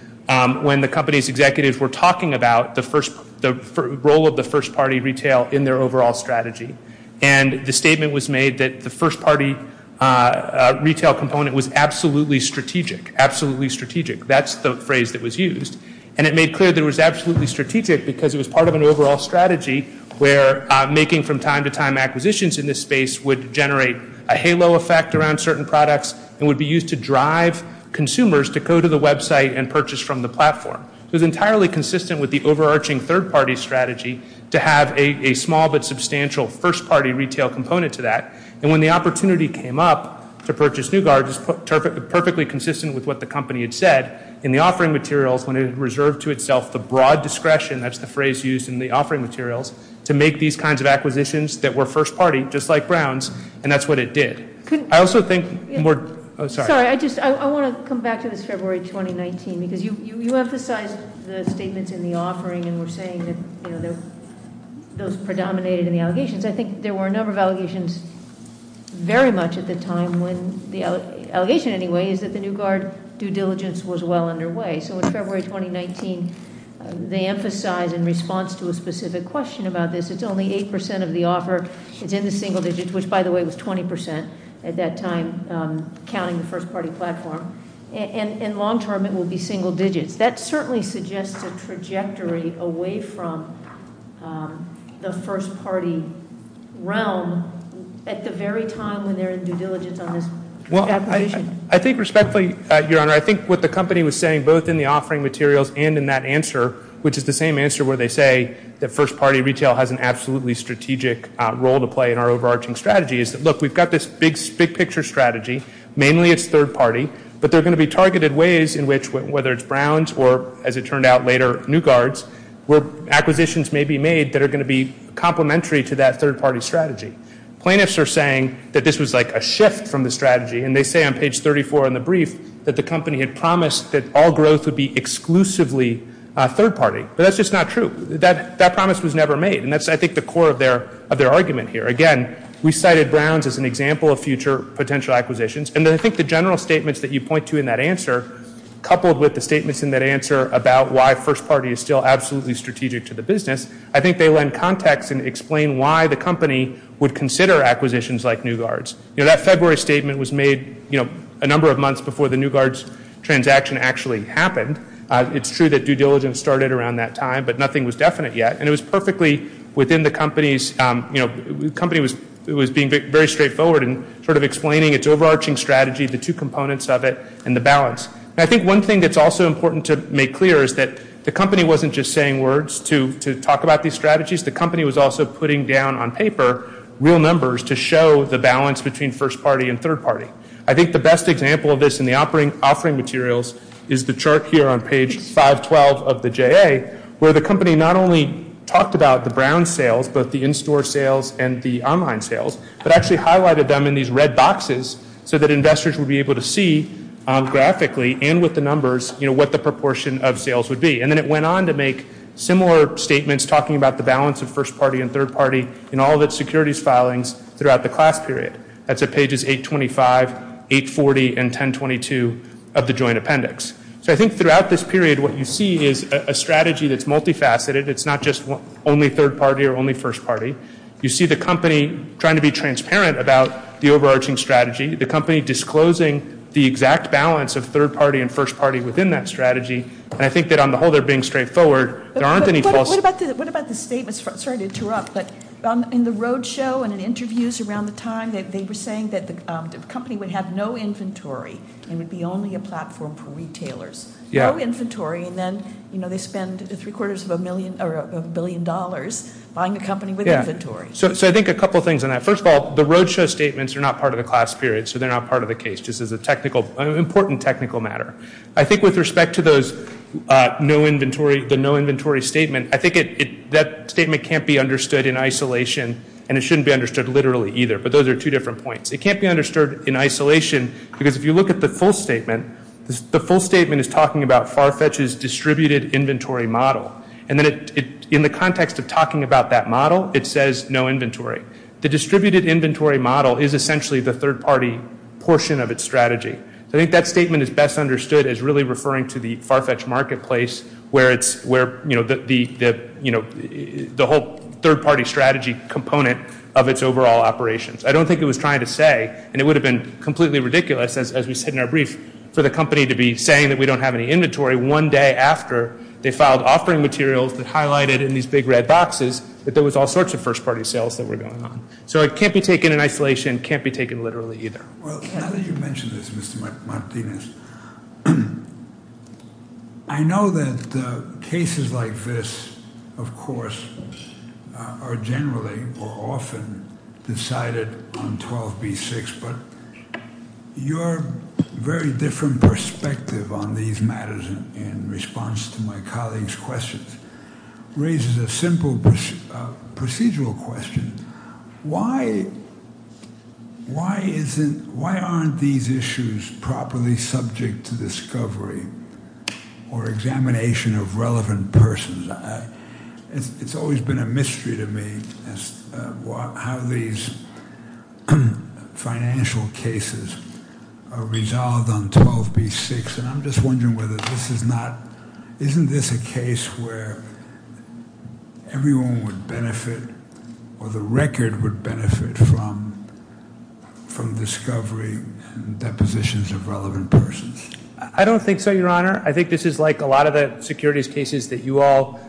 when the company's executives were talking about the role of the first-party retail in their overall strategy. And the statement was made that the first-party retail component was absolutely strategic, absolutely strategic. That's the phrase that was used. And it made clear that it was absolutely strategic because it was part of an overall strategy where making from time to time acquisitions in this space would generate a halo effect around certain products and would be used to drive consumers to go to the website and purchase from the platform. It was entirely consistent with the overarching third-party strategy to have a small but substantial first-party retail component to that. And when the opportunity came up to purchase Newgard, it was perfectly consistent with what the company had said in the offering materials when it reserved to itself the broad discretion, that's the phrase used in the offering materials, to make these kinds of acquisitions that were first-party, just like Browns, and that's what it did. I also think more, sorry. Sorry, I just, I want to come back to this February 2019 because you emphasized the statements in the offering and were saying that those predominated in the allegations. I think there were a number of allegations very much at the time when, the allegation anyway is that the Newgard due diligence was well underway. So in February 2019, they emphasize in response to a specific question about this, it's only 8% of the offer, it's in the single digits, which by the way was 20% at that time, counting the first-party platform, and long-term it will be single digits. That certainly suggests a trajectory away from the first-party realm at the very time when they're in due diligence on this acquisition. Well, I think respectfully, Your Honor, I think what the company was saying both in the offering materials and in that answer, which is the same answer where they say that first-party retail has an absolutely strategic role to play in our overarching strategy, is that look, we've got this big-picture strategy, mainly it's third-party, but there are going to be targeted ways in which, whether it's Browns or, as it turned out later, Newgards, where acquisitions may be made that are going to be complementary to that third-party strategy. Plaintiffs are saying that this was like a shift from the strategy, and they say on page 34 in the brief that the company had promised that all growth would be exclusively third-party, but that's just not true. That promise was never made, and that's, I think, the core of their argument here. Again, we cited Browns as an example of future potential acquisitions, and I think the general statements that you point to in that answer, coupled with the statements in that answer about why first-party is still absolutely strategic to the business, I think they lend context and explain why the company would consider acquisitions like Newgards. You know, that February statement was made, you know, a number of months before the Newgards transaction actually happened. It's true that due diligence started around that time, but nothing was definite yet, and it was perfectly within the company's, you know, the company was being very straightforward in sort of explaining its overarching strategy, the two components of it, and the balance. And I think one thing that's also important to make clear is that the company wasn't just saying words to talk about these strategies. The company was also putting down on paper real numbers to show the balance between first-party and third-party. I think the best example of this in the offering materials is the chart here on page 512 of the JA, where the company not only talked about the Browns sales, both the in-store sales and the online sales, but actually highlighted them in these red boxes so that investors would be able to see graphically and with the numbers, you know, what the proportion of sales would be. And then it went on to make similar statements talking about the balance of first-party and third-party in all of its securities filings throughout the class period. That's at pages 825, 840, and 1022 of the joint appendix. So I think throughout this period what you see is a strategy that's multifaceted. It's not just only third-party or only first-party. You see the company trying to be transparent about the overarching strategy, the company disclosing the exact balance of third-party and first-party within that strategy, and I think that on the whole they're being straightforward. There aren't any false. What about the statements? Sorry to interrupt, but in the roadshow and in interviews around the time, they were saying that the company would have no inventory and would be only a platform for retailers. No inventory, and then, you know, they spend three-quarters of a billion dollars buying a company with inventory. So I think a couple things on that. First of all, the roadshow statements are not part of the class period, so they're not part of the case. This is an important technical matter. I think with respect to the no inventory statement, I think that statement can't be understood in isolation, and it shouldn't be understood literally either, but those are two different points. It can't be understood in isolation because if you look at the full statement, the full statement is talking about FARFETCH's distributed inventory model, and then in the context of talking about that model, it says no inventory. The distributed inventory model is essentially the third-party portion of its strategy. I think that statement is best understood as really referring to the FARFETCH marketplace where it's, you know, the whole third-party strategy component of its overall operations. I don't think it was trying to say, and it would have been completely ridiculous, as we said in our brief, for the company to be saying that we don't have any inventory one day after they filed offering materials that highlighted in these big red boxes that there was all sorts of first-party sales that were going on. So it can't be taken in isolation. It can't be taken literally either. Well, now that you mention this, Mr. Martinez, I know that cases like this, of course, are generally or often decided on 12b-6, but your very different perspective on these matters in response to my colleague's questions raises a simple procedural question. Why aren't these issues properly subject to discovery or examination of relevant persons? It's always been a mystery to me how these financial cases are resolved on 12b-6, and I'm just wondering whether this is not—isn't this a case where everyone would benefit or the record would benefit from discovery and depositions of relevant persons? I don't think so, Your Honor. I think this is like a lot of the securities cases that you all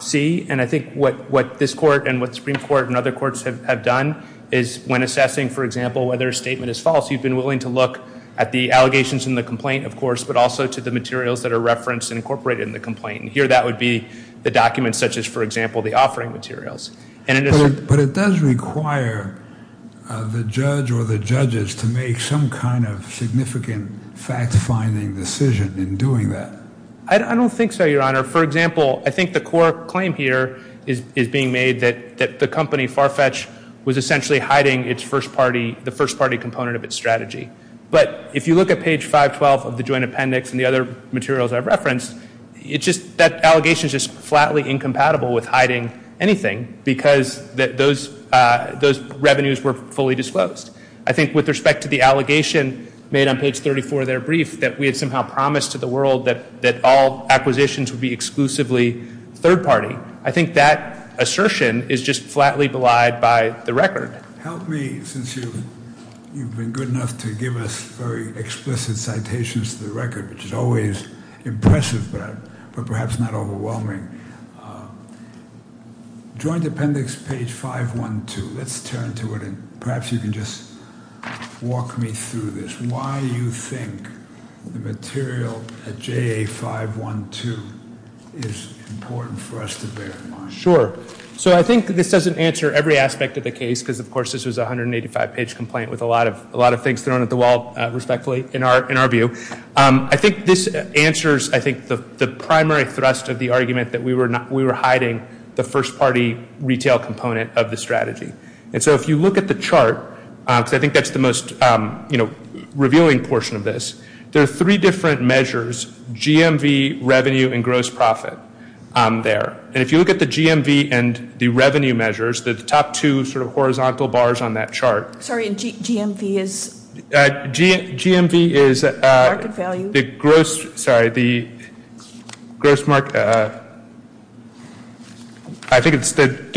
see, and I think what this Court and what the Supreme Court and other courts have done is when assessing, for example, whether a statement is false, you've been willing to look at the allegations in the complaint, of course, but also to the materials that are referenced and incorporated in the complaint. Here that would be the documents such as, for example, the offering materials. But it does require the judge or the judges to make some kind of significant fact-finding decision in doing that. I don't think so, Your Honor. For example, I think the core claim here is being made that the company Farfetch was essentially hiding the first-party component of its strategy. But if you look at page 512 of the joint appendix and the other materials I've referenced, that allegation is just flatly incompatible with hiding anything because those revenues were fully disclosed. I think with respect to the allegation made on page 34 of their brief that we had somehow promised to the world that all acquisitions would be exclusively third-party, I think that assertion is just flatly belied by the record. Help me, since you've been good enough to give us very explicit citations to the record, which is always impressive but perhaps not overwhelming. Joint appendix, page 512. Let's turn to it, and perhaps you can just walk me through this. Why do you think the material at JA 512 is important for us to verify? Sure. I think this doesn't answer every aspect of the case because, of course, this was a 185-page complaint with a lot of things thrown at the wall, respectfully, in our view. I think this answers, I think, the primary thrust of the argument that we were hiding the first-party retail component of the strategy. And so if you look at the chart, because I think that's the most revealing portion of this, there are three different measures, GMV, revenue, and gross profit there. And if you look at the GMV and the revenue measures, they're the top two sort of horizontal bars on that chart. Sorry, and GMV is? GMV is the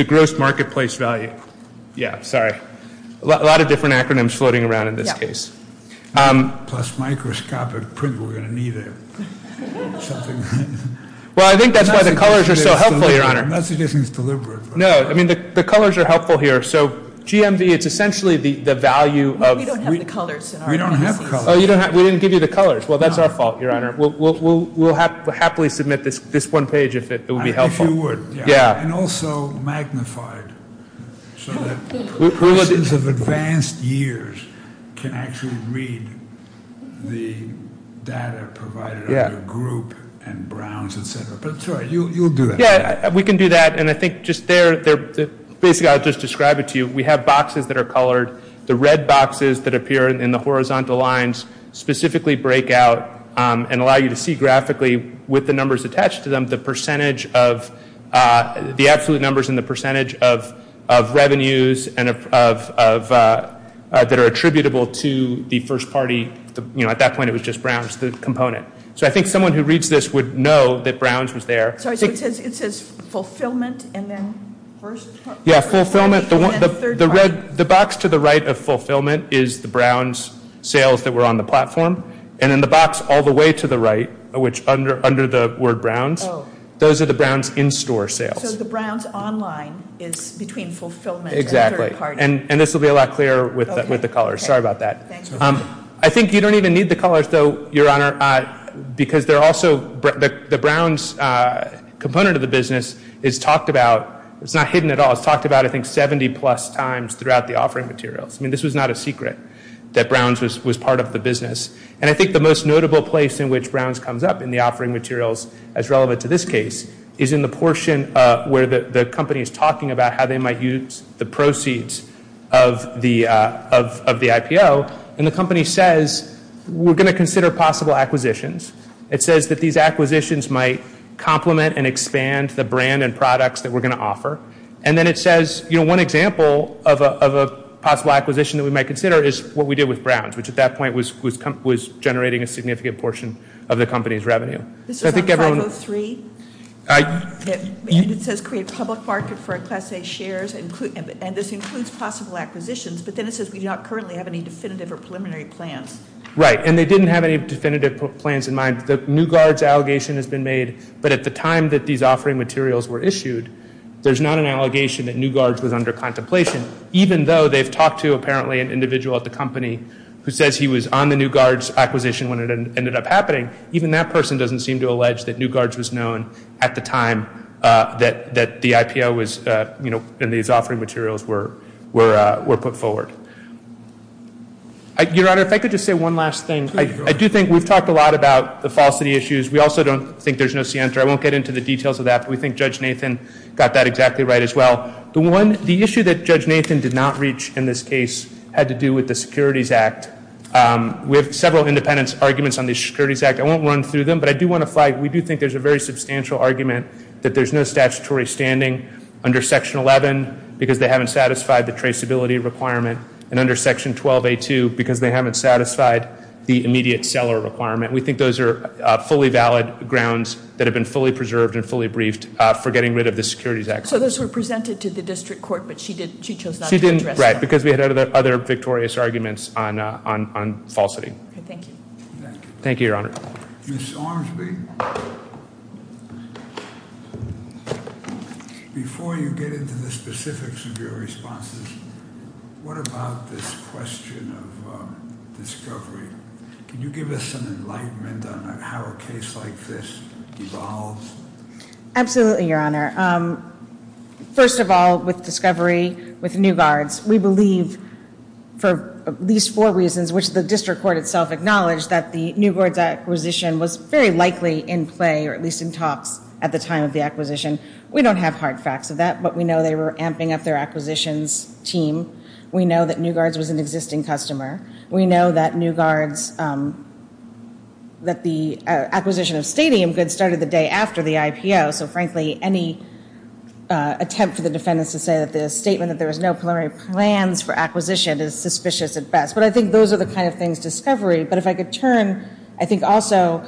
gross market place value. Yeah, sorry. A lot of different acronyms floating around in this case. Plus microscopic print, we're going to need something. Well, I think that's why the colors are so helpful, Your Honor. I'm not suggesting it's deliberate. No, I mean the colors are helpful here. So GMV, it's essentially the value of- We don't have the colors. We don't have the colors. We didn't give you the colors. Well, that's our fault, Your Honor. We'll happily submit this one page if it would be helpful. If you would. Yeah. And also magnified so that persons of advanced years can actually read the data provided under Group and Browns, et cetera. But it's all right. You'll do that. Yeah, we can do that. And I think just there, basically I'll just describe it to you. We have boxes that are colored. The red boxes that appear in the horizontal lines specifically break out and allow you to see graphically with the numbers attached to them, the absolute numbers and the percentage of revenues that are attributable to the first party. At that point, it was just Browns, the component. So I think someone who reads this would know that Browns was there. It says fulfillment and then first party. Yeah, fulfillment. The box to the right of fulfillment is the Browns sales that were on the platform. And in the box all the way to the right, which under the word Browns, those are the Browns in-store sales. So the Browns online is between fulfillment and third party. Exactly. And this will be a lot clearer with the colors. Sorry about that. I think you don't even need the colors, though, Your Honor, because the Browns component of the business is talked about. It's not hidden at all. It's talked about, I think, 70-plus times throughout the offering materials. I mean, this was not a secret that Browns was part of the business. And I think the most notable place in which Browns comes up in the offering materials, as relevant to this case, is in the portion where the company is talking about how they might use the proceeds of the IPO. And the company says, we're going to consider possible acquisitions. It says that these acquisitions might complement and expand the brand and products that we're going to offer. And then it says, you know, one example of a possible acquisition that we might consider is what we did with Browns, which at that point was generating a significant portion of the company's revenue. This is on 503. And it says create public market for Class A shares. And this includes possible acquisitions. But then it says we do not currently have any definitive or preliminary plans. Right. And they didn't have any definitive plans in mind. The New Guards allegation has been made, but at the time that these offering materials were issued, there's not an allegation that New Guards was under contemplation, even though they've talked to apparently an individual at the company who says he was on the New Guards acquisition when it ended up happening. Even that person doesn't seem to allege that New Guards was known at the time that the IPO was, you know, when these offering materials were put forward. Your Honor, if I could just say one last thing. I do think we've talked a lot about the falsity issues. We also don't think there's no scienter. I won't get into the details of that, but we think Judge Nathan got that exactly right as well. The issue that Judge Nathan did not reach in this case had to do with the Securities Act. We have several independent arguments on the Securities Act. I won't run through them, but I do want to flag, we do think there's a very substantial argument that there's no statutory standing under Section 11 because they haven't satisfied the traceability requirement, and under Section 12A2 because they haven't satisfied the immediate seller requirement. We think those are fully valid grounds that have been fully preserved and fully briefed for getting rid of the Securities Act. So those were presented to the district court, but she chose not to address them. Right, because we had other victorious arguments on falsity. Thank you. Thank you, Your Honor. Ms. Armsby, before you get into the specifics of your responses, what about this question of discovery? Can you give us an enlightenment on how a case like this evolves? Absolutely, Your Honor. First of all, with discovery, with new guards, we believe for at least four reasons, which the district court itself acknowledged that the new guards acquisition was very likely in play or at least in talks at the time of the acquisition. We don't have hard facts of that, but we know they were amping up their acquisitions team. We know that new guards was an existing customer. We know that new guards, that the acquisition of stadium goods started the day after the IPO. So frankly, any attempt for the defendants to say that the statement that there was no preliminary plans for acquisition is suspicious at best. But I think those are the kind of things discovery. But if I could turn, I think also,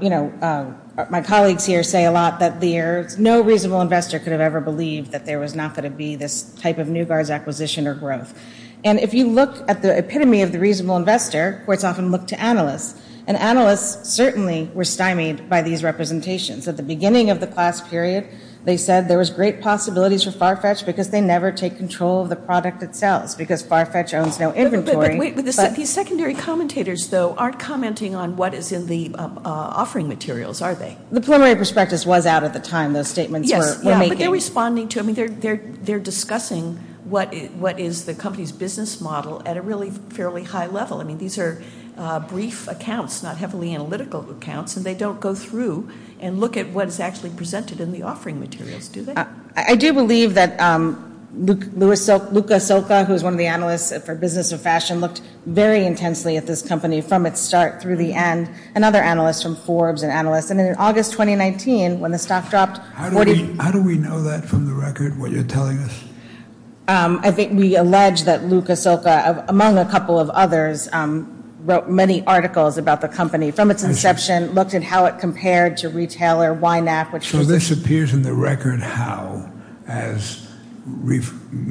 you know, my colleagues here say a lot that there's no reasonable investor could have ever believed that there was not going to be this type of new guards acquisition or growth. And if you look at the epitome of the reasonable investor, courts often look to analysts, and analysts certainly were stymied by these representations. At the beginning of the class period, they said there was great possibilities for Farfetch because they never take control of the product itself because Farfetch owns no inventory. These secondary commentators, though, aren't commenting on what is in the offering materials, are they? The preliminary prospectus was out at the time those statements were making. Yes, but they're responding to them. They're discussing what is the company's business model at a really fairly high level. I mean, these are brief accounts, not heavily analytical accounts, and they don't go through and look at what is actually presented in the offering materials, do they? I do believe that Luca Silca, who is one of the analysts for business and fashion, looked very intensely at this company from its start through the end, and other analysts from Forbes and analysts. And in August 2019, when the stock dropped 40- How do we know that from the record, what you're telling us? I think we allege that Luca Silca, among a couple of others, wrote many articles about the company from its inception, looked at how it compared to retailer YNAC, which was- Now, as we've-